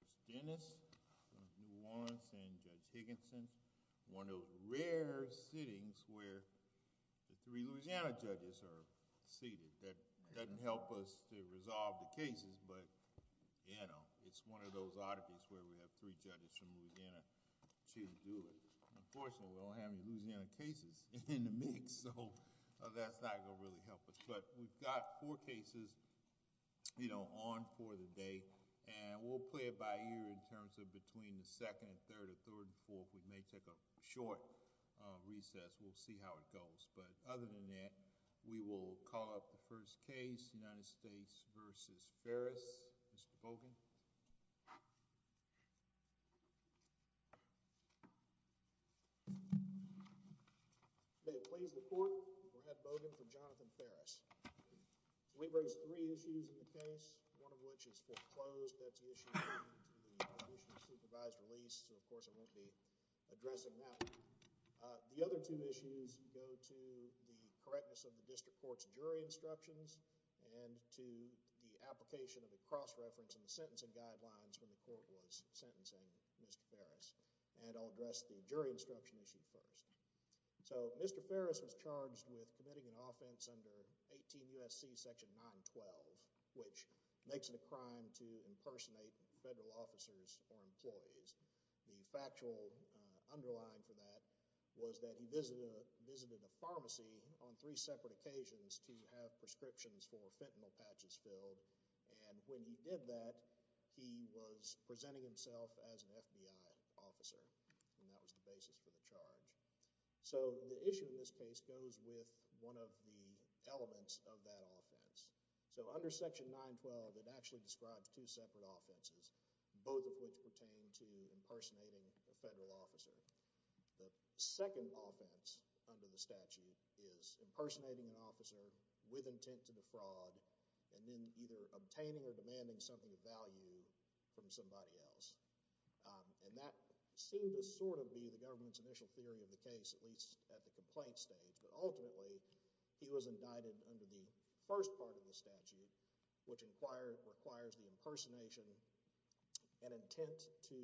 of New Orleans and Judge Higginson, one of the rare sittings where the three Louisiana judges are seated. That doesn't help us to resolve the cases, but, you know, it's one of those oddities where we have three judges from Louisiana choosing to do it. Unfortunately, we don't have any Louisiana cases in the mix, so that's not going to really help us. But we've got four cases, you know, on for the day, and we'll play it by ear. In terms of between the second and third or third and fourth, we may take a short recess. We'll see how it goes. But other than that, we will call up the first case, United States v. Ferris. Mr. Bogan. May it please the Court, we'll have Bogan for Jonathan Ferris. We've raised three issues in the case, one of which is foreclosed. That's an issue that's been discussed. The other two issues go to the correctness of the district court's jury instructions and to the application of a cross-reference in the sentencing guidelines when the court was sentencing Mr. Ferris. And I'll address the jury instruction issue first. So Mr. Ferris was charged with committing an offense under 18 U.S.C. section 912, which makes it a crime to impersonate federal officers or employees. The factual underline for that was that he visited a pharmacy on three separate occasions to have prescriptions for fentanyl patches filled. And when he did that, he was presenting himself as an FBI officer, and that was the basis for the charge. So the issue in this case goes with one of the elements of that offense. So under section 912, it actually describes two separate offenses, both of which pertain to impersonating a federal officer. The second offense under the statute is impersonating an officer with intent to defraud and then either obtaining or demanding something of value from somebody else. And that seemed to sort of be the government's initial theory of the case, at least at the complaint stage. But ultimately, he was indicted under the first part of the statute, which requires the impersonation and intent to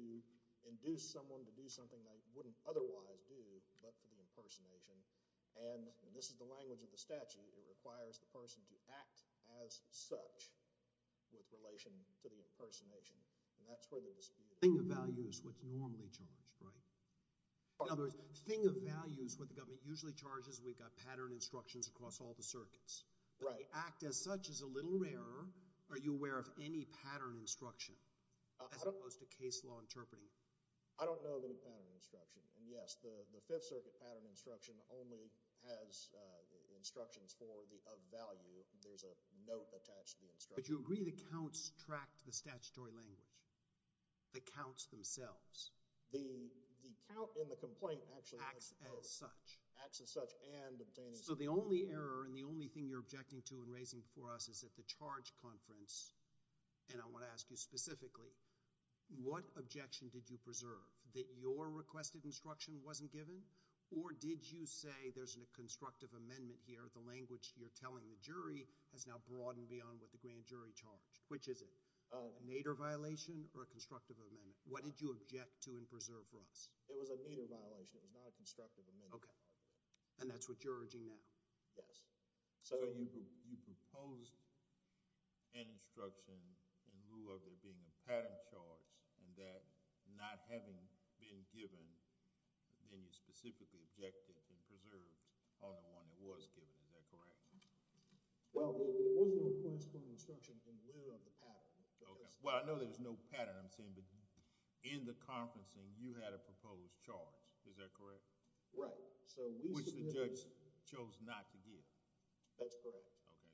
induce someone to do something they wouldn't otherwise do but for the impersonation. And this is the language of the statute. It requires the person to act as such with relation to the impersonation, and that's where the dispute is. The thing of value is what's normally charged, right? In other words, the thing of value is what the government usually charges. We've got pattern instructions across all the circuits. Right. But the act as such is a little rarer. Are you aware of any pattern instruction as opposed to case law interpreting? I don't know of any pattern instruction. And yes, the Fifth Circuit pattern instruction only has instructions for the of value. There's a note attached to the instruction. But you agree the counts tracked the statutory language, the counts themselves? The count in the complaint actually acts as such. Acts as such. Acts as such and obtains. So the only error and the only thing you're objecting to and raising before us is that the charge conference, and I want to ask you specifically, what objection did you preserve? That your requested instruction wasn't given? Or did you say there's a constructive amendment here, the language you're telling the jury has now broadened beyond what the grand jury charged? Which is it? A Nader violation or a constructive amendment? What did you object to and preserve for us? It was a Nader violation. It was not a constructive amendment. Okay. And that's what you're urging now? Yes. So you proposed an instruction in lieu of there being a pattern charge and that not having been given, then you specifically objected and preserved on the one that was given. Is that correct? Well, there was no corresponding instruction in lieu of the pattern. Okay. Well, I know there was no pattern I'm saying, but in the conferencing, you had a proposed charge. Is that correct? Right. So we submitted... Which the judge chose not to give. That's correct. Okay.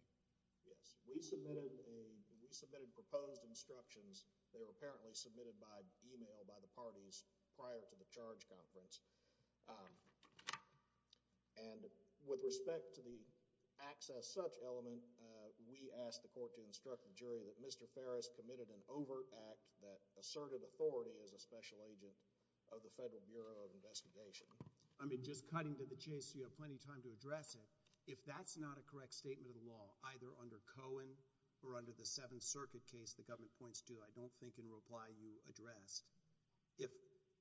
Yes. We submitted a... we submitted proposed instructions. They were apparently submitted by email by the parties prior to the charge conference. And with respect to the acts as such element, we asked the court to instruct the jury that Mr. Farris committed an overact that asserted authority as a special agent of the Federal Bureau of Investigation. I mean, just cutting to the chase, you have plenty of time to address it. If that's not a correct statement of the law, either under Cohen or under the Seventh Circuit case the government points to, I don't think in reply you addressed, if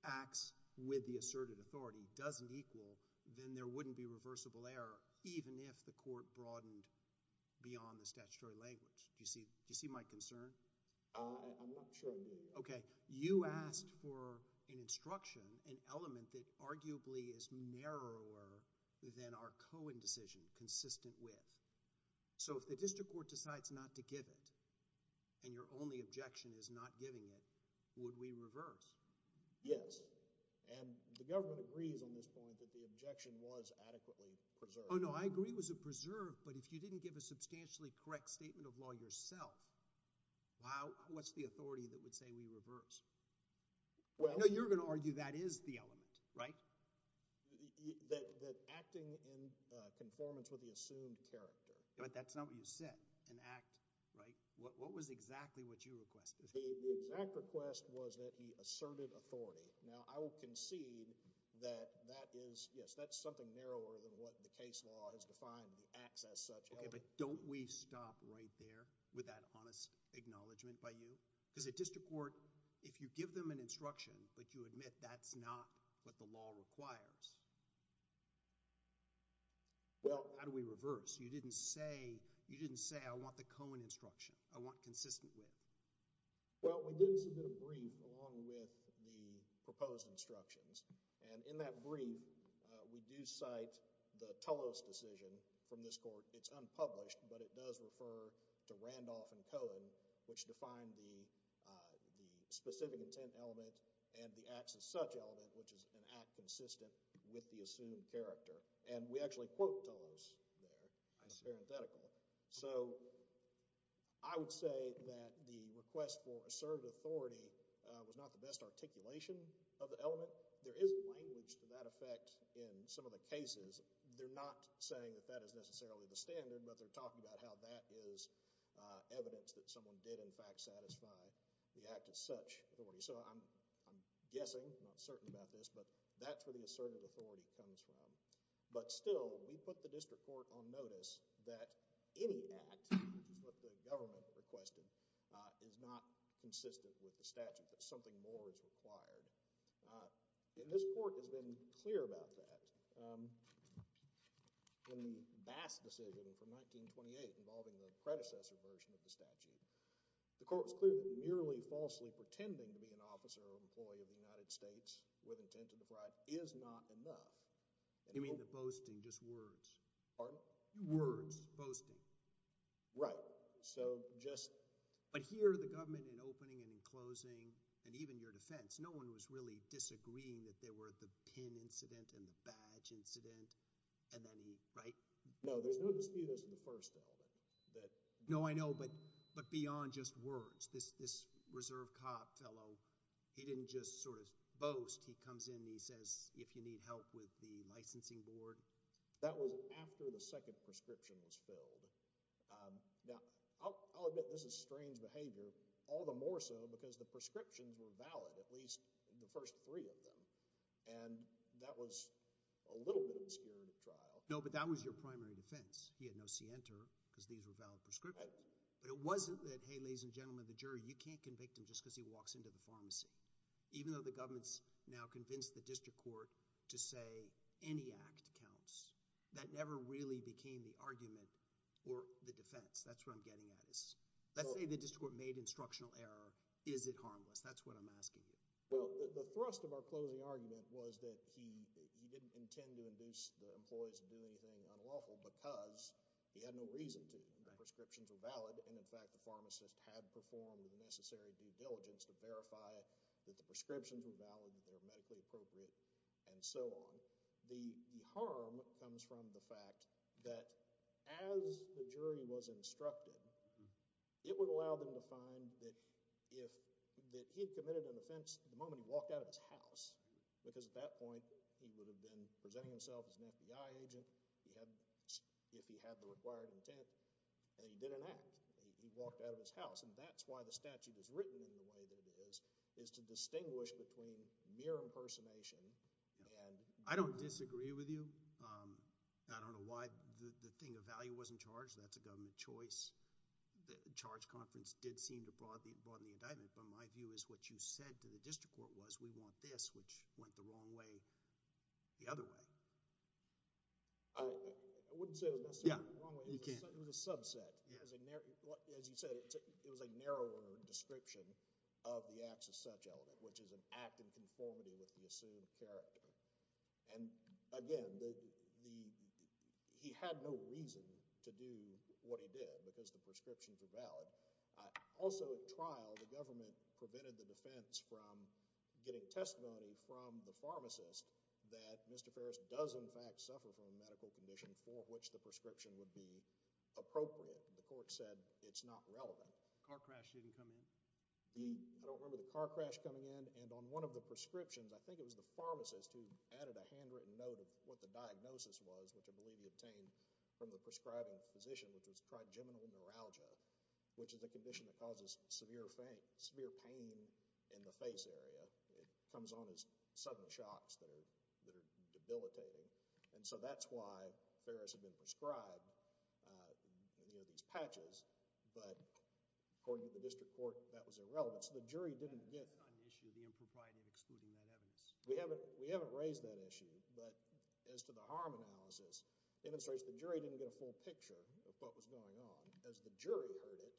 acts with the asserted authority doesn't equal, then there wouldn't be reversible error even if the court broadened beyond the statutory language. Do you see my concern? I'm not sure I do. Okay. You asked for an instruction, an element that arguably is narrower than our Cohen decision, consistent with. So if the district court decides not to give it and your only objection is not giving it, would we reverse? Yes. And the government agrees on this point that the objection was adequately preserved. Oh, no. I agree it was preserved, but if you didn't give a substantially correct statement of law yourself, what's the authority that would say we reverse? Well. I know you're going to argue that is the element, right? That acting in conformance with the assumed character. But that's not what you said, an act, right? What was exactly what you requested? The exact request was that he asserted authority. Now, I will concede that that is, yes, that's something narrower than what the case law has defined, the acts as such element. Okay, but don't we stop right there with that honest acknowledgement by you? Because the district court, if you give them an instruction, but you admit that's not what the law requires, well, how do we reverse? You didn't say I want the Cohen instruction. I want consistent with. Well, we did submit a brief along with the proposed instructions, and in that brief, we do cite the Tullos decision from this court. It's unpublished, but it does refer to Randolph and Cohen, which defined the specific intent element and the acts as such element, which is an act consistent with the assumed character. And we actually quote Tullos there. I see. It's parenthetical. So I would say that the request for asserted authority was not the best articulation of the element. There is language to that effect in some of the cases. They're not saying that that is necessarily the standard, but they're talking about how that is evidence that someone did, in fact, satisfy the act as such authority. So I'm guessing, I'm not certain about this, but that's where the asserted authority comes from. But still, we put the district court on notice that any act, which is what the government requested, is not consistent with the statute, that something more is required. And this court has been clear about that. In the Bass decision from 1928 involving the predecessor version of the statute, the court was clear that merely falsely pretending to be an officer or employee of the United States with intent to defraud is not enough. You mean the boasting, just words? Pardon? Words. Boasting. Right. So just— But here, the government, in opening and in closing, and even your defense, no one was really disagreeing that there were the pin incident and the badge incident, and then he—right? No, there's no dispute as to the first element. No, I know, but beyond just words. This reserve cop fellow, he didn't just sort of boast. He comes in and he says, if you need help with the licensing board. That was after the second prescription was filled. Now, I'll admit this is strange behavior, all the more so because the prescriptions were valid, at least the first three of them. And that was a little bit obscured at trial. No, but that was your primary defense. He had no scienter because these were valid prescriptions. Right. But it wasn't that, hey, ladies and gentlemen of the jury, you can't convict him just because he walks into the pharmacy. Even though the government's now convinced the district court to say any act counts, that never really became the argument or the defense. That's what I'm getting at. Let's say the district court made instructional error. Is it harmless? That's what I'm asking you. Well, the thrust of our closing argument was that he didn't intend to induce the lawful because he had no reason to. Right. The prescriptions were valid, and in fact, the pharmacist had performed the necessary due diligence to verify that the prescriptions were valid, that they were medically appropriate, and so on. The harm comes from the fact that as the jury was instructed, it would allow them to find that if he had committed an offense the moment he walked out of his house, because at that point he would have been presenting himself as an FBI agent. If he had the required intent, and he did enact. He walked out of his house, and that's why the statute is written in the way that it is, is to distinguish between mere impersonation and... I don't disagree with you. I don't know why the thing of value wasn't charged. That's a government choice. The charge conference did seem to broaden the indictment, but my view is what you said to the district court was we want this, which went the wrong way the other way. I wouldn't say it was necessarily the wrong way. It was a subset. As you said, it was a narrower description of the acts as such element, which is an act in conformity with the assumed character. Again, he had no reason to do what he did because the prescriptions were valid. Also, at trial, the government prevented the defense from getting testimony from the pharmacist that Mr. Ferris does, in fact, suffer from a medical condition for which the prescription would be appropriate. The court said it's not relevant. Car crash didn't come in? I don't remember the car crash coming in. On one of the prescriptions, I think it was the pharmacist who added a handwritten note of what the diagnosis was, which I believe he obtained from the prescribing physician, which was trigeminal neuralgia, which is a condition that causes severe pain in the face area. It comes on as sudden shocks that are debilitating. That's why Ferris had been prescribed these patches, but according to the district court, that was irrelevant. So the jury didn't get— On the issue of the impropriety of excluding that evidence. We haven't raised that issue, but as to the harm analysis, it demonstrates the jury didn't get a full picture of what was going on. As the jury heard it,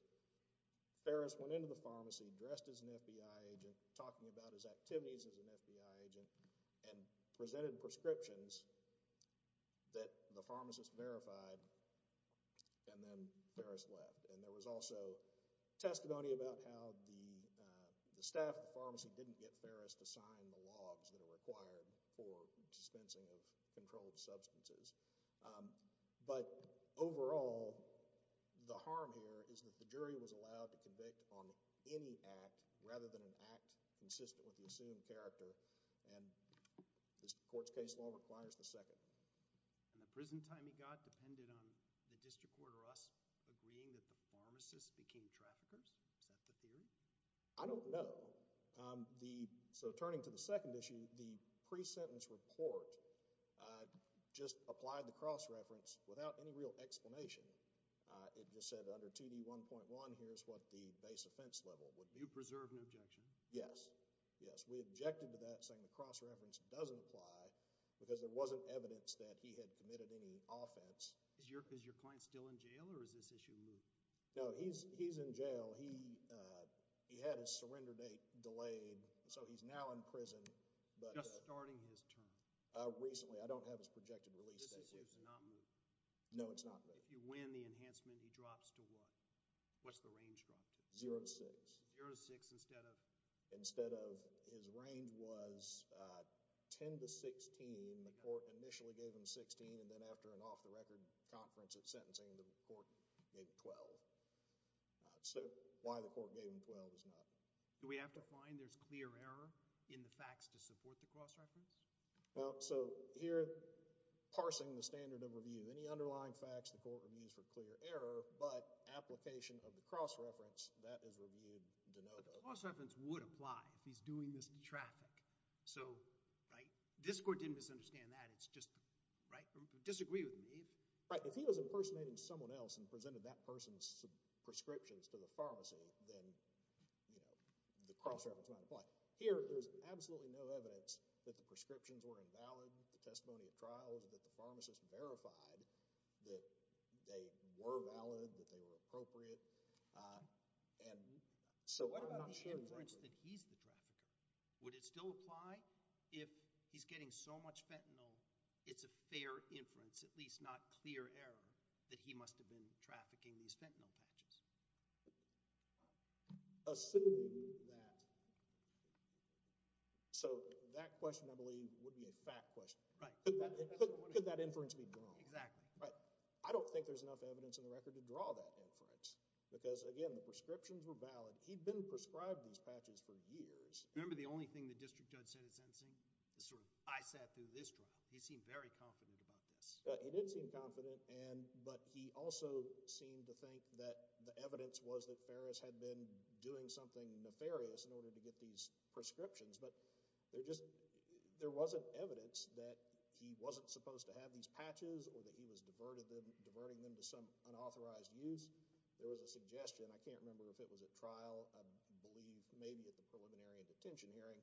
Ferris went into the pharmacy dressed as an FBI agent, talking about his activities as an FBI agent, and presented prescriptions that the pharmacist verified, and then Ferris left. There was also testimony about how the staff at the pharmacy didn't get Ferris to sign the logs that are required for dispensing of controlled substances. But overall, the harm here is that the jury was allowed to convict on any act rather than an act consistent with the assumed character, and this court's case law requires the second. And the prison time he got depended on the district court or us agreeing that the pharmacist became traffickers? Is that the theory? I don't know. So turning to the second issue, the pre-sentence report just applied the cross-reference without any real explanation. It just said under 2D1.1, here's what the base offense level would be. Do you preserve an objection? Yes. Yes. We objected to that, saying the cross-reference doesn't apply because there wasn't evidence that he had committed any offense. Is your client still in jail, or has this issue moved? No, he's in jail. He had his surrender date delayed, so he's now in prison. Just starting his term? Recently. I don't have his projected release date. This issue's not moved? No, it's not moved. If you win the enhancement, he drops to what? What's the range drop to? Zero to six. Zero to six instead of? Instead of, his range was 10 to 16. The court initially gave him 16, and then after an off-the-record conference at sentencing, the court gave him 12. So why the court gave him 12 is not known. Do we have to find there's clear error in the facts to support the cross-reference? Well, so here, parsing the standard of review, any underlying facts the court reviews for that is reviewed de novo. The cross-reference would apply if he's doing this in traffic. So, right, this court didn't misunderstand that. It's just, right, disagree with me. Right, if he was impersonating someone else and presented that person's prescriptions to the pharmacy, then, you know, the cross-reference might apply. Here, there's absolutely no evidence that the prescriptions were invalid, the testimony of trials, that the pharmacist verified that they were valid, that they were appropriate. I'm not sure, for instance, that he's the trafficker. Would it still apply if he's getting so much fentanyl, it's a fair inference, at least not clear error, that he must have been trafficking these fentanyl patches? Assuming that, so that question, I believe, would be a fact question. Right. Could that inference be wrong? Exactly. Right. I don't think there's enough evidence in the record to draw that inference because, again, the prescriptions were valid. He'd been prescribed these patches for years. Remember the only thing the district judge said at sentencing? The sort of, I sat through this trial. He seemed very confident about this. He did seem confident, but he also seemed to think that the evidence was that Ferris had been doing something nefarious in order to get these prescriptions. But there just, there wasn't evidence that he wasn't supposed to have these patches or that he was diverting them to some unauthorized use. There was a suggestion, I can't remember if it was at trial, I believe maybe at the preliminary and detention hearing,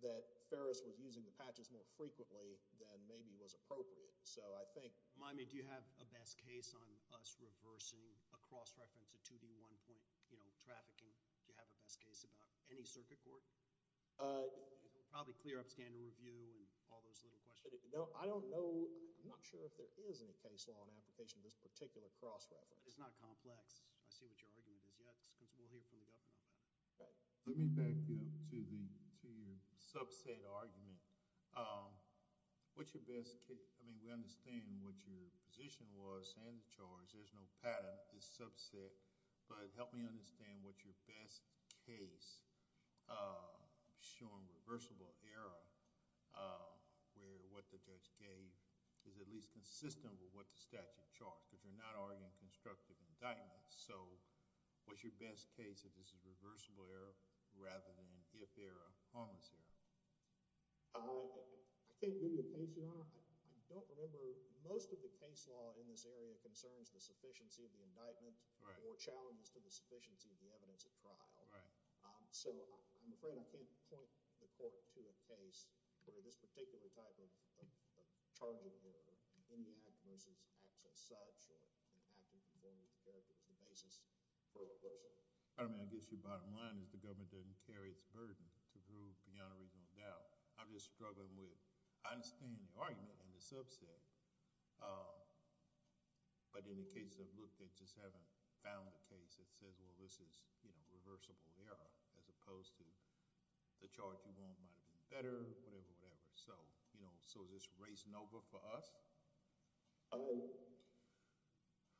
that Ferris was using the patches more frequently than maybe was appropriate. So I think... Miami, do you have a best case on us reversing a cross-reference, a 2D1 point, you know, trafficking? Do you have a best case about any circuit court? Probably clear upstander review and all those little questions. I don't know, I'm not sure if there is any case law in application of this particular cross-reference. It's not complex. I see what your argument is. We'll hear from the governor about that. Let me back you up to your subset argument. What's your best case? I mean, we understand what your position was and the charge. There's no pattern. It's subset. But help me understand what's your best case showing reversible error where what the judge gave is at least consistent with what the statute charged because you're not arguing constructive indictments. So what's your best case if this is reversible error rather than if error, harmless error? I can't give you a case, Your Honor. I don't remember... most of the case law in this area concerns the sufficiency of the indictment or challenges to the sufficiency of the evidence at trial. So I'm afraid I can't point the court to a case where this particular type of a charge in the act versus acts as such or an act in conformity to character is the basis for the question. I mean, I guess your bottom line is the government doesn't carry its burden to prove beyond a reasonable doubt. I'm just struggling with understanding the argument and the subset. But in the case I've looked at, just haven't found a case that says, well, this is reversible error as opposed to the charge you want might have been better, whatever, whatever. So is this race Nova for us? Oh,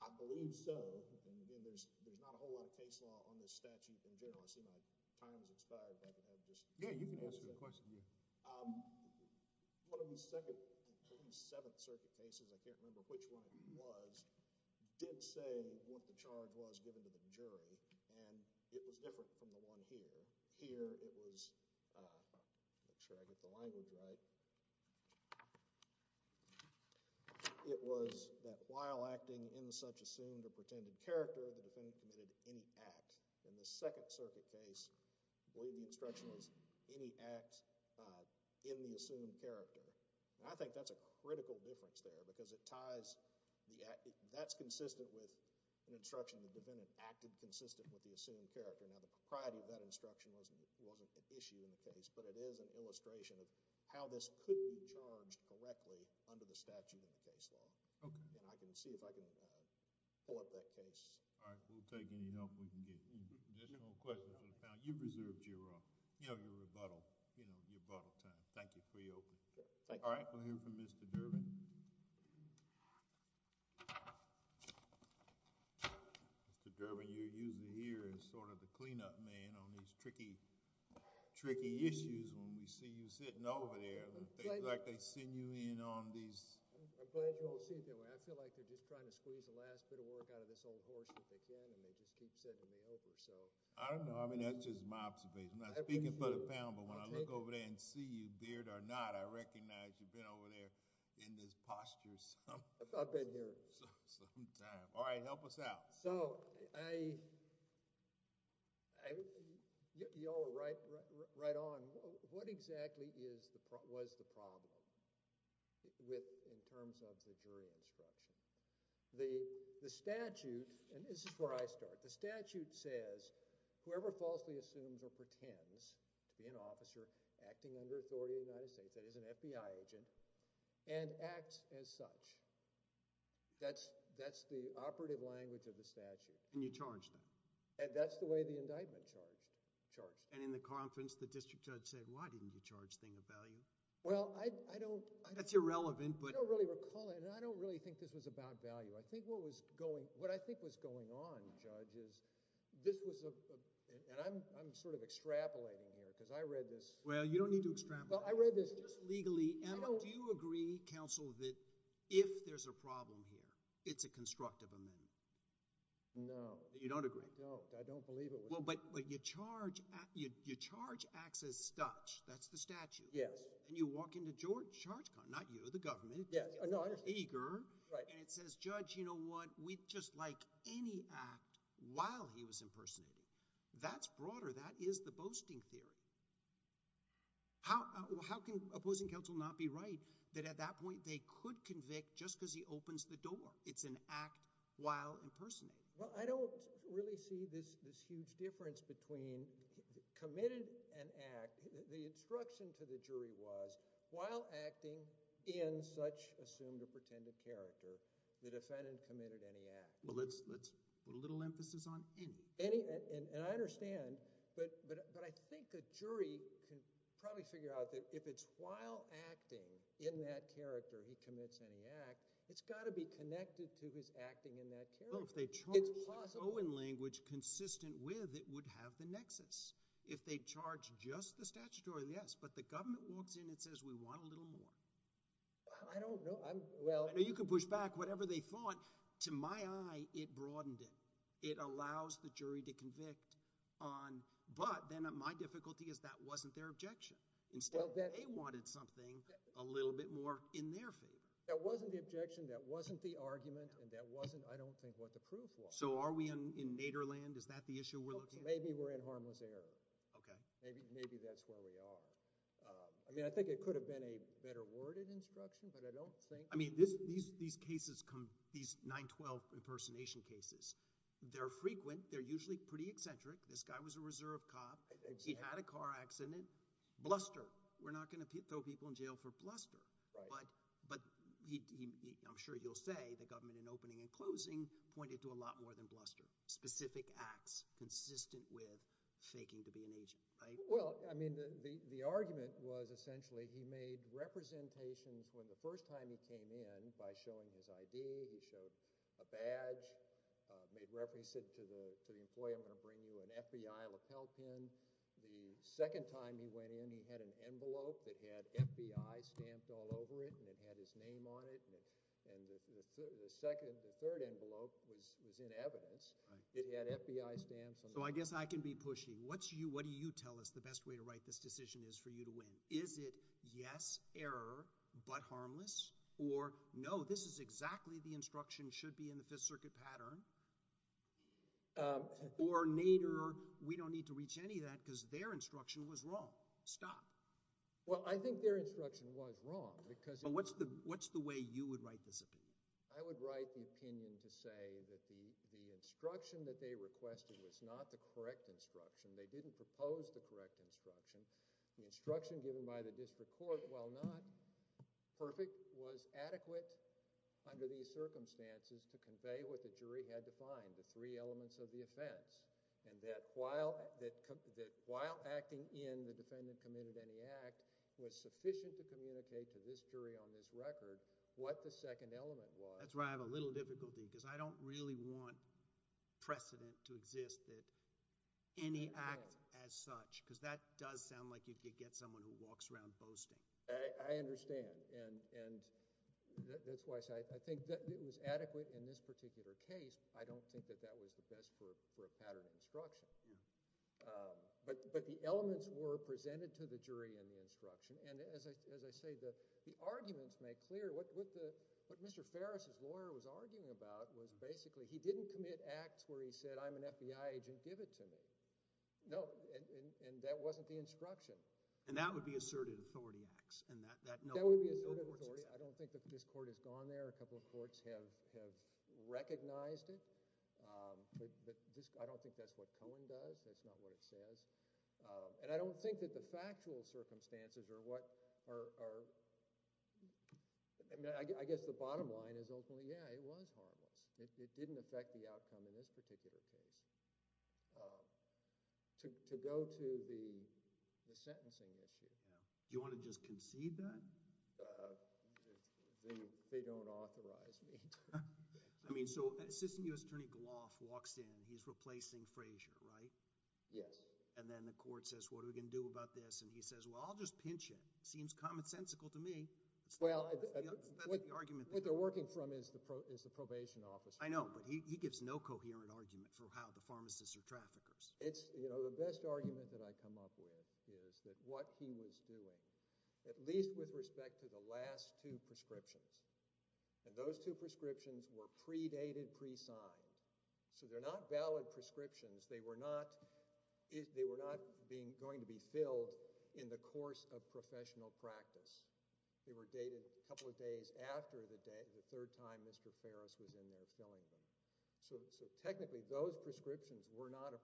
I believe so. There's not a whole lot of case law on this statute in general. I see my time has expired. Yeah, you can answer the question. One of the Seventh Circuit cases, I can't remember which one it was, did say what the charge was given to the jury and it was different from the one here. It was, make sure I get the language right. It was that while acting in such assumed or pretended character, the defendant committed any act. In the Second Circuit case, the instruction was any act in the assumed character. I think that's a critical difference there because it ties, that's consistent with an instruction the defendant acted consistent with the assumed character. Now, the propriety of that instruction wasn't an issue in the case but it is an illustration of how this could be charged correctly under the statute in the case law. Okay. I can see if I can pull up that case. All right. We'll take any help we can get. Any additional questions for the panel? You've reserved your rebuttal time. Thank you for your open. Okay. Thank you. All right. We'll hear from Mr. Durbin. Mr. Durbin, you're usually here as sort of the cleanup man on these tricky, tricky issues when we see you sitting over there. Things like they send you in on these. I'm glad you don't see it that way. I feel like they're just trying to squeeze the last bit of work out of this old horse if they can and they just keep sending me over. I don't know. I mean, that's just my observation. I'm not speaking for the panel but when I look over there and see you with the beard or not, I recognize you've been over there in this posture some... I've been here.... some time. All right. Help us out. Y'all were right on. What exactly was the problem in terms of the jury instruction? The statute, and this is where I start, the statute says whoever falsely assumes or pretends to be an officer acting under authority of the United States, that is an FBI agent, and acts as such. That's the operative language of the statute. And you charged them? That's the way the indictment charged them. In the conference, the district judge said, why didn't you charge thing of value? Well, I don't... That's irrelevant but... I don't really recall it and I don't really think this was about value. What I think was going on, Judge, is this was a... and I'm sort of extrapolating here because I read this... Well, you don't need to extrapolate. Well, I read this... Just legally, Emma, do you agree, counsel, that if there's a problem here, it's a constructive amendment? No. You don't agree? I don't. I don't believe it was... Well, but you charge... you charge acts as such. That's the statute. Yes. And you walk into charge... not you, the government. Yes. No, I understand. And you walk in there eager... Right. And it says, Judge, you know what? We'd just like any act while he was impersonated. That's broader. That is the boasting theory. How can opposing counsel not be right that at that point they could convict just because he opens the door? It's an act while impersonated. Well, I don't really see this huge difference between committed an act. The instruction to the jury was while acting in such assumed or pretended character, the defendant committed any act. Well, let's put a little emphasis on any. Any. And I understand. But I think a jury can probably figure out that if it's while acting in that character he commits any act, it's got to be connected to his acting in that character. It's possible. Well, if they charge the Cohen language consistent with, it would have the nexus. If they charge just the statutory, yes. But the government walks in and says, We want a little more. I don't know. Well... I know you can push back whatever they thought. To my eye, it broadened it. It allows the jury to convict on... But then my difficulty is that wasn't their objection. Instead, they wanted something a little bit more in their favor. That wasn't the objection. That wasn't the argument. And that wasn't, I don't think, what the proof was. So are we in nadir land? Is that the issue we're looking at? Maybe we're in harmless error. Okay. Maybe that's where we are. I mean, I think it could have been a better worded instruction, but I don't think... I mean, these 9-12 impersonation cases, they're frequent. They're usually pretty eccentric. This guy was a reserve cop. He had a car accident. Bluster. We're not going to throw people in jail for bluster. Right. But I'm sure you'll say the government, in opening and closing, pointed to a lot more than bluster. Specific acts consistent with faking to be an agent, right? Well, I mean, the argument was essentially he made representations when the first time he came in, by showing his ID, he showed a badge, made reference to the employee, I'm going to bring you an FBI lapel pin. The second time he went in, he had an envelope that had FBI stamped all over it and it had his name on it. And the third envelope was in evidence. It had FBI stamps on it. So I guess I can be pushy. What do you tell us the best way to write this decision is for you to win? Is it yes, error, but harmless? Or no, this is exactly the instruction, should be in the Fifth Circuit pattern? Or nadir, we don't need to reach any of that because their instruction was wrong. Stop. Well, I think their instruction was wrong because... What's the way you would write this opinion? I would write the opinion to say that the instruction that they requested was not the correct instruction. They didn't propose the correct instruction. The instruction given by the district court, while not perfect, was adequate under these circumstances to convey what the jury had defined, the three elements of the offense, and that while acting in the defendant committed any act, was sufficient to communicate to this jury on this record what the second element was. That's where I have a little difficulty because I don't really want precedent to exist that any act as such, because that does sound like you could get someone who walks around boasting. I understand. And that's why I say I think it was adequate in this particular case. I don't think that that was the best for a pattern instruction. But the elements were presented to the jury in the instruction, and as I say, the arguments make clear what Mr. Ferris, his lawyer, was arguing about was basically he didn't commit acts where he said, I'm an FBI agent, give it to me. No, and that wasn't the instruction. And that would be asserted authority acts. That would be asserted authority. I don't think that this court has gone there. A couple of courts have recognized it. I don't think that's what Cohen does. That's not what it says. And I don't think that the factual circumstances are what are – I guess the bottom line is, yeah, it was harmless. It didn't affect the outcome in this particular case. To go to the sentencing issue. Do you want to just concede that? They don't authorize me. I mean, so Assistant U.S. Attorney Gloff walks in. He's replacing Frazier, right? Yes. And then the court says, what are we going to do about this? And he says, well, I'll just pinch him. Seems commonsensical to me. Well, what they're working from is the probation officer. I know, but he gives no coherent argument for how the pharmacists are traffickers. The best argument that I come up with is that what he was doing, at least with respect to the last two prescriptions, and those two prescriptions were predated, presigned. So they're not valid prescriptions. They were not going to be filled in the course of professional practice. They were dated a couple of days after the third time Mr. Ferris was in there filling them. So technically those prescriptions were not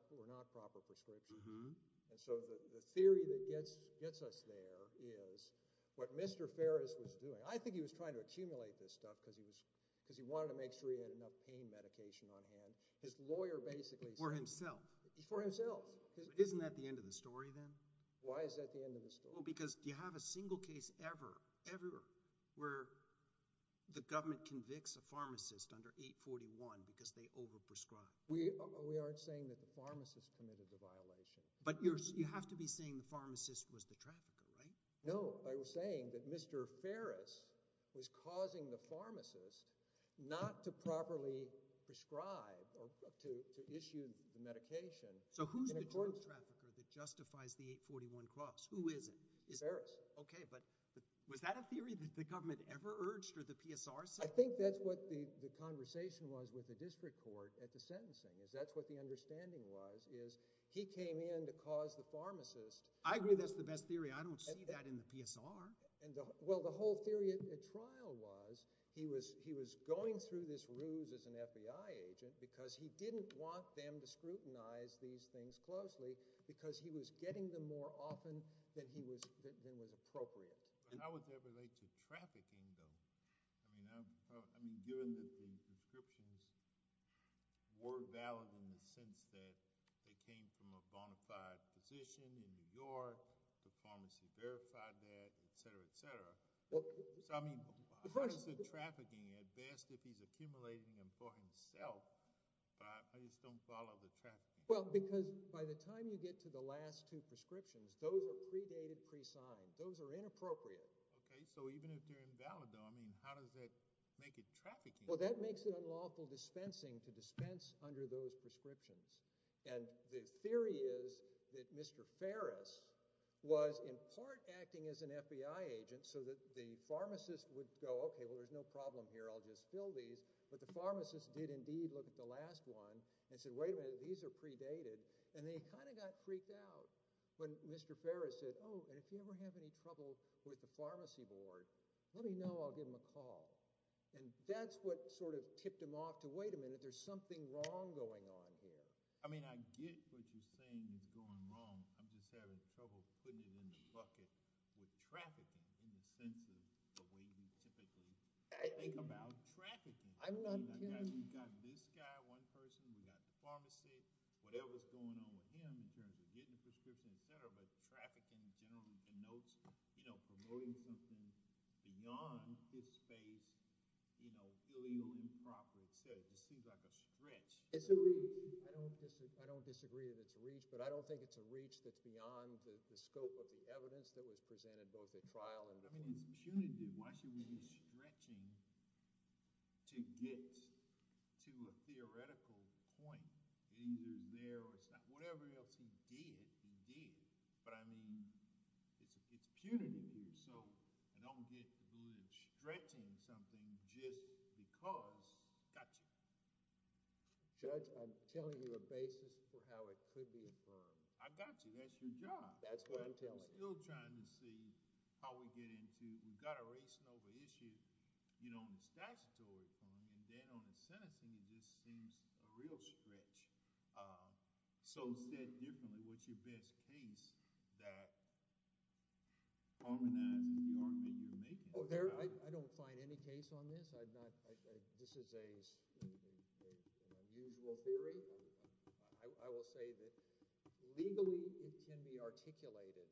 proper prescriptions. And so the theory that gets us there is what Mr. Ferris was doing – I think he was trying to accumulate this stuff because he wanted to make sure he had enough pain medication on hand. His lawyer basically said – For himself. For himself. Isn't that the end of the story then? Why is that the end of the story? Well, because you have a single case ever, ever, where the government convicts a pharmacist under 841 because they over-prescribed. We aren't saying that the pharmacist committed the violation. But you have to be saying the pharmacist was the trafficker, right? No. I was saying that Mr. Ferris was causing the pharmacist not to properly prescribe or to issue the medication. So who's the drug trafficker that justifies the 841 cross? Who is it? Ferris. Okay. But was that a theory that the government ever urged or the PSR said? I think that's what the conversation was with the district court at the sentencing. That's what the understanding was is he came in to cause the pharmacist – I agree that's the best theory. I don't see that in the PSR. Well, the whole theory at trial was he was going through this ruse as an FBI agent because he didn't want them to scrutinize these things closely because he was getting them more often than was appropriate. How would that relate to trafficking though? I mean given that the prescriptions were valid in the sense that they came from a bona fide physician in New York, the pharmacy verified that, et cetera, et cetera. So I mean how does the trafficking advance if he's accumulating them for himself? I just don't follow the trafficking. Well, because by the time you get to the last two prescriptions, those are predated, presigned. Those are inappropriate. Okay, so even if they're invalid though, I mean how does that make it trafficking? Well, that makes it unlawful dispensing to dispense under those prescriptions. And the theory is that Mr. Farris was in part acting as an FBI agent so that the pharmacist would go, okay, well there's no problem here, I'll just fill these. But the pharmacist did indeed look at the last one and said, wait a minute, these are predated. And they kind of got freaked out when Mr. Farris said, oh, and if you ever have any trouble with the pharmacy board, let me know, I'll give them a call. And that's what sort of tipped him off to wait a minute, there's something wrong going on here. I mean I get what you're saying is going wrong. I'm just having trouble putting it in the bucket with trafficking in the sense of the way we typically think about trafficking. I mean we've got this guy, one person, we've got the pharmacy, whatever's going on with him in terms of getting the prescription, et cetera, but trafficking generally denotes promoting something beyond his space, illegal, improper, et cetera. It just seems like a stretch. It's a reach. I don't disagree that it's a reach, but I don't think it's a reach that's beyond the scope of the evidence that was presented both at trial and before. I mean it's punitive. Why should we be stretching to get to a theoretical point? It either is there or it's not. Whatever else he did, he did. But I mean it's punitive. So I don't think we're stretching something just because, got you. Judge, I'm telling you a basis for how it could be affirmed. I got you. That's your job. That's what I'm telling you. I'm still trying to see how we get into, we've got a race and over issue, and then on the sentencing it just seems a real stretch. So said differently, what's your best case that harmonizes the argument you're making? I don't find any case on this. This is an unusual theory. I will say that legally it can be articulated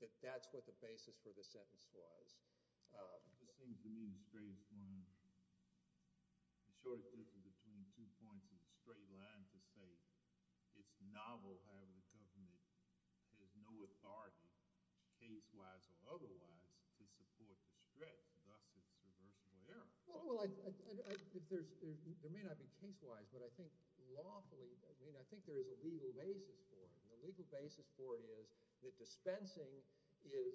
that that's what the basis for the sentence was. It just seems to me the shortest distance between two points is a straight line to say it's novel. However, the government has no authority case-wise or otherwise to support the stretch. Thus, it's reversible error. Well, there may not be case-wise, but I think lawfully, I mean I think there is a legal basis for it. The legal basis is that dispensing is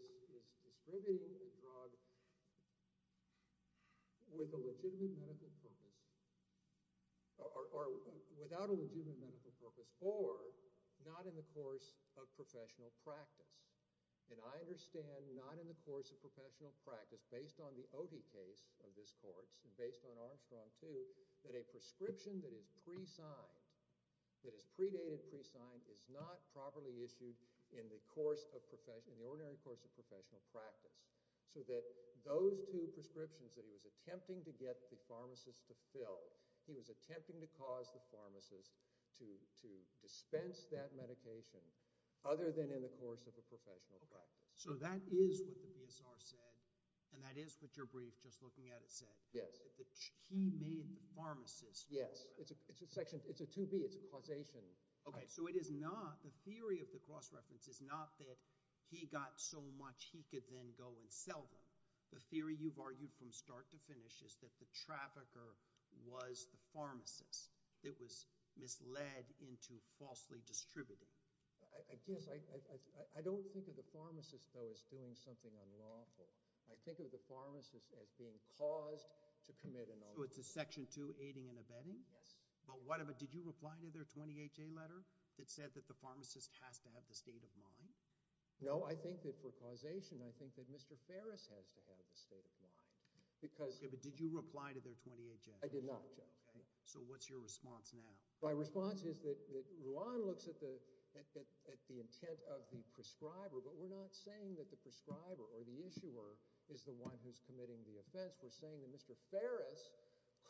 distributing the drug with a legitimate medical purpose or without a legitimate medical purpose or not in the course of professional practice. And I understand not in the course of professional practice based on the Otey case of this court and based on Armstrong too that a prescription that is pre-signed, that is predated, pre-signed is not properly issued in the ordinary course of professional practice so that those two prescriptions that he was attempting to get the pharmacist to fill, he was attempting to cause the pharmacist to dispense that medication other than in the course of a professional practice. So that is what the BSR said and that is what your brief just looking at it said. Yes. He made the pharmacist. Yes. It's a section. It's a 2B. It's a causation. Okay. So it is not the theory of the cross-reference is not that he got so much he could then go and sell them. The theory you've argued from start to finish is that the trafficker was the pharmacist that was misled into falsely distributing. I guess I don't think of the pharmacist though as doing something unlawful. I think of the pharmacist as being caused to commit an offense. So it's a section 2, aiding and abetting? Yes. But did you reply to their 28-J letter that said that the pharmacist has to have the state of mind? No. I think that for causation, I think that Mr. Ferris has to have the state of mind. Okay. But did you reply to their 28-J? I did not, Joe. Okay. So what's your response now? My response is that Juan looks at the intent of the prescriber, but we're not saying that the prescriber or the issuer is the one who's committing the offense. We're saying that Mr. Ferris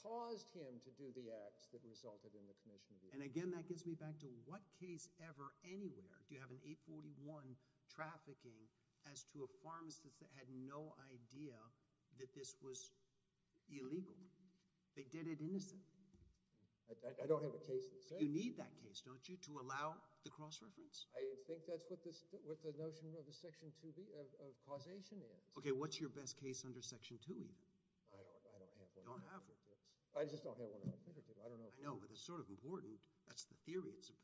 caused him to do the acts that resulted in the commission of the offense. And again, that gets me back to what case ever anywhere do you have an 841 trafficking as to a pharmacist that had no idea that this was illegal? They did it innocent. I don't have a case that says that. You need that case, don't you, to allow the cross-reference? I think that's what the notion of the section 2 of causation is. Okay. What's your best case under section 2 even? I don't have one. You don't have one? I just don't have one on my fingertips. I don't know. I know, but it's sort of important. That's the theory. It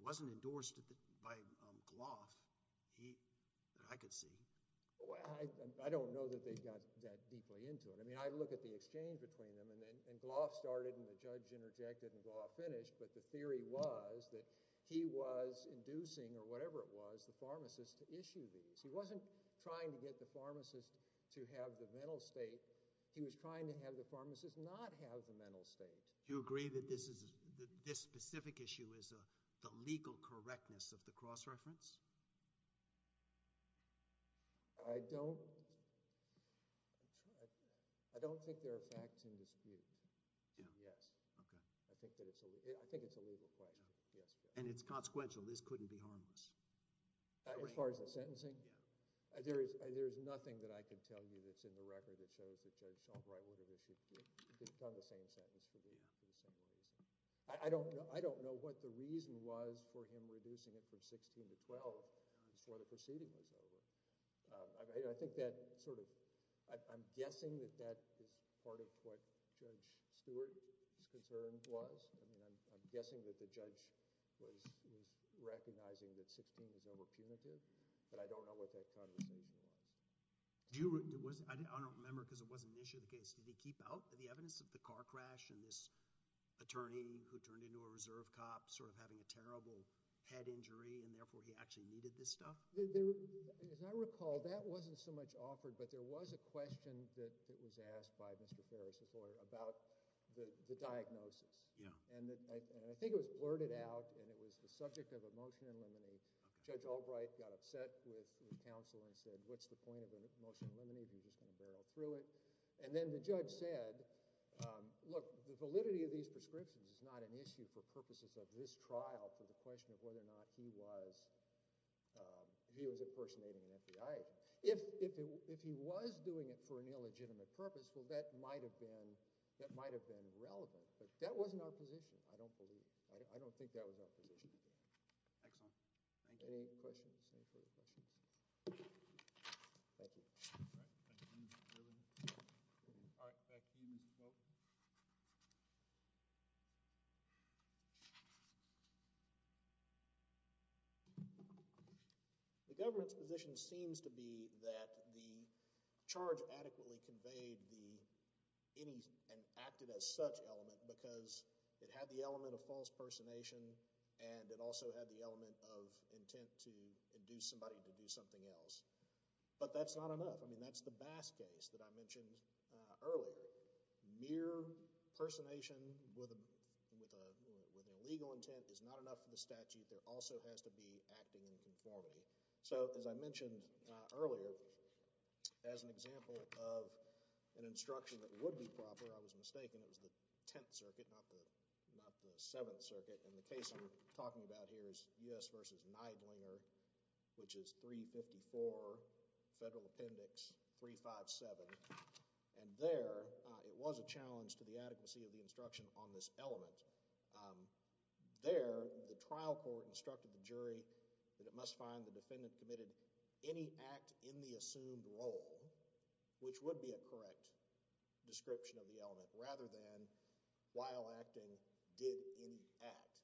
wasn't endorsed by Gloff that I could see. I don't know that they got that deeply into it. I mean, I look at the exchange between them, and Gloff started and the judge interjected and Gloff finished, but the theory was that he was inducing or whatever it was, the pharmacist to issue these. He wasn't trying to get the pharmacist to have the mental state. He was trying to have the pharmacist not have the mental state. Do you agree that this specific issue is the legal correctness of the cross-reference? I don't think there are facts in dispute. Yes. Okay. I think it's a legal question. Yes. And it's consequential. This couldn't be harmless. As far as the sentencing? Yeah. There is nothing that I can tell you that's in the record that shows that Judge Albright would have issued – done the same sentence for the same reason. I don't know what the reason was for him reducing it from 16 to 12. That's where the proceeding was over. I think that sort of – I'm guessing that that is part of what Judge Stewart's concern was. I'm guessing that the judge was recognizing that 16 was over punitive, but I don't know what that conversation was. I don't remember because it wasn't an issue of the case. Did he keep out the evidence of the car crash and this attorney who turned into a reserve cop sort of having a terrible head injury and therefore he actually needed this stuff? As I recall, that wasn't so much offered, but there was a question that was about the diagnosis. And I think it was blurted out and it was the subject of a motion in limine. Judge Albright got upset with counsel and said, what's the point of a motion in limine if you're just going to barrel through it? And then the judge said, look, the validity of these prescriptions is not an issue for purposes of this trial for the question of whether or not he was impersonating an FBI agent. If he was doing it for an illegitimate purpose, well, that might have been relevant, but that wasn't our position. I don't believe it. I don't think that was our position. Excellent. Thank you. Any questions? Any further questions? Thank you. All right. Thank you, Mr. Kirby. All right. Back to you, Mr. Smoak. The government's position seems to be that the charge adequately conveyed the element of false impersonation and it also had the element of intent to induce somebody to do something else. But that's not enough. I mean, that's the Bass case that I mentioned earlier. Mere impersonation with an illegal intent is not enough for the statute. There also has to be acting in conformity. So, as I mentioned earlier, as an example of an instruction that would be proper, I was mistaken. It was the Tenth Circuit, not the Seventh Circuit. And the case I'm talking about here is U.S. v. Neidlinger, which is 354 Federal Appendix 357. And there, it was a challenge to the adequacy of the instruction on this element. There, the trial court instructed the jury that it must find the defendant committed any act in the assumed role, which would be a correct description of the element, rather than while acting, did any act,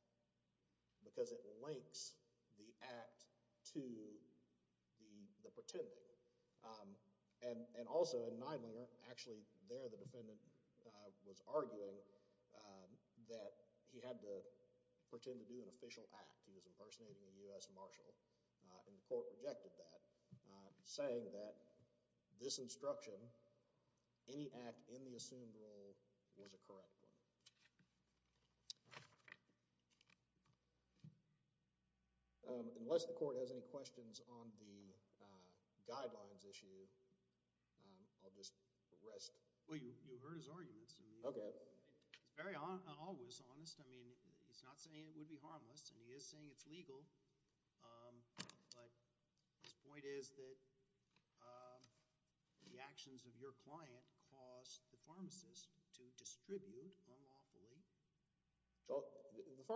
because it links the act to the pretending. And also, in Neidlinger, actually, there the defendant was arguing that he had to pretend to do an official act. He was impersonating a U.S. marshal. And the court rejected that, saying that this instruction, any act in the assumed role, was a correct one. Unless the court has any questions on the guidelines issue, I'll just rest. Well, you heard his arguments. Okay. He's very honest, honest. I mean, he's not saying it would be harmless, and he is saying it's legal. But his point is that the actions of your client caused the pharmacist to distribute unlawfully. Well, the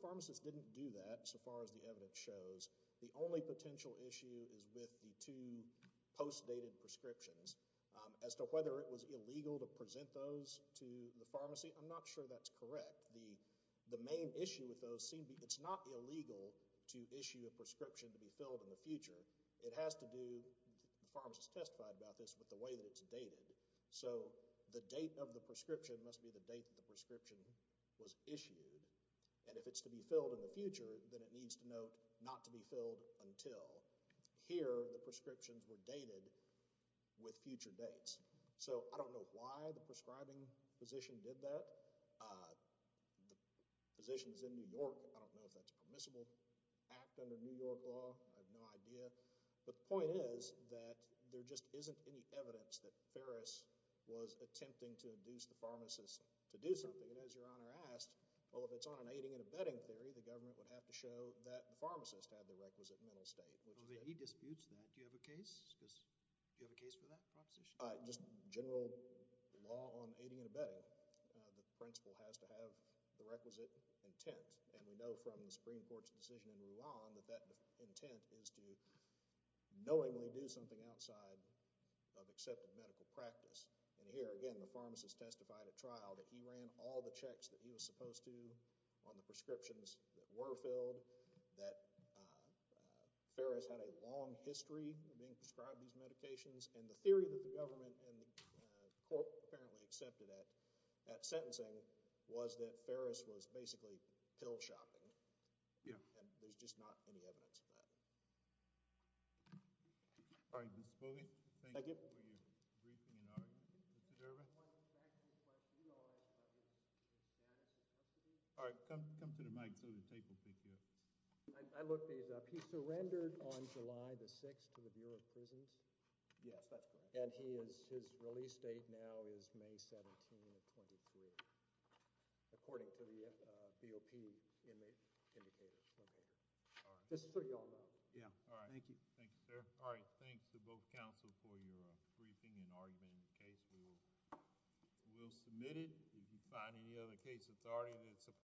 pharmacist didn't do that, so far as the evidence shows. The only potential issue is with the two post-dated prescriptions. As to whether it was illegal to present those to the pharmacy, I'm not sure that's correct. The main issue with those seemed to be it's not illegal to issue a prescription to be filled in the future. It has to do, the pharmacist testified about this, with the way that it's dated. So the date of the prescription must be the date that the prescription was issued. And if it's to be filled in the future, then it needs to note not to be filled until. Here, the prescriptions were dated with future dates. So I don't know why the prescribing physician did that. The physician's in New York. I don't know if that's a permissible act under New York law. I have no idea. But the point is that there just isn't any evidence that Ferris was attempting to induce the pharmacist to do something. And as Your Honor asked, well, if it's on an aiding and abetting theory, the government would have to show that the pharmacist had the requisite intent to do something outside of the medical practice. The pharmacist is the one who's responsible for the medical state. He disputes that. Do you have a case? Do you have a case for that proposition? Just general law on aiding and abetting, the principle has to have the requisite intent. And we know from the Supreme Court's decision in Mulan that that intent is to knowingly do something outside of accepted medical practice. And here, again, the pharmacist testified at trial that he ran all the checks that he was supposed to on the prescriptions that were filled, that Ferris had a long history of being prescribed these medications. And the theory that the government and the court apparently accepted that sentencing was that Ferris was basically pill shopping. Yeah. And there's just not any evidence of that. All right, Mr. Spooley. Thank you. Thank you for your briefing and argument. Mr. Durbin? All right, come to the mic so the tape will pick you up. I looked these up. He surrendered on July the 6th to the Bureau of Prisons. Yes, that's correct. And his release date now is May 17 of 23, according to the DOP indicators. All right. Yeah, all right. Thank you. Thank you, sir. All right. Thanks to both counsel for your briefing and argument in the case. We will submit it. If you find any other case authority that's...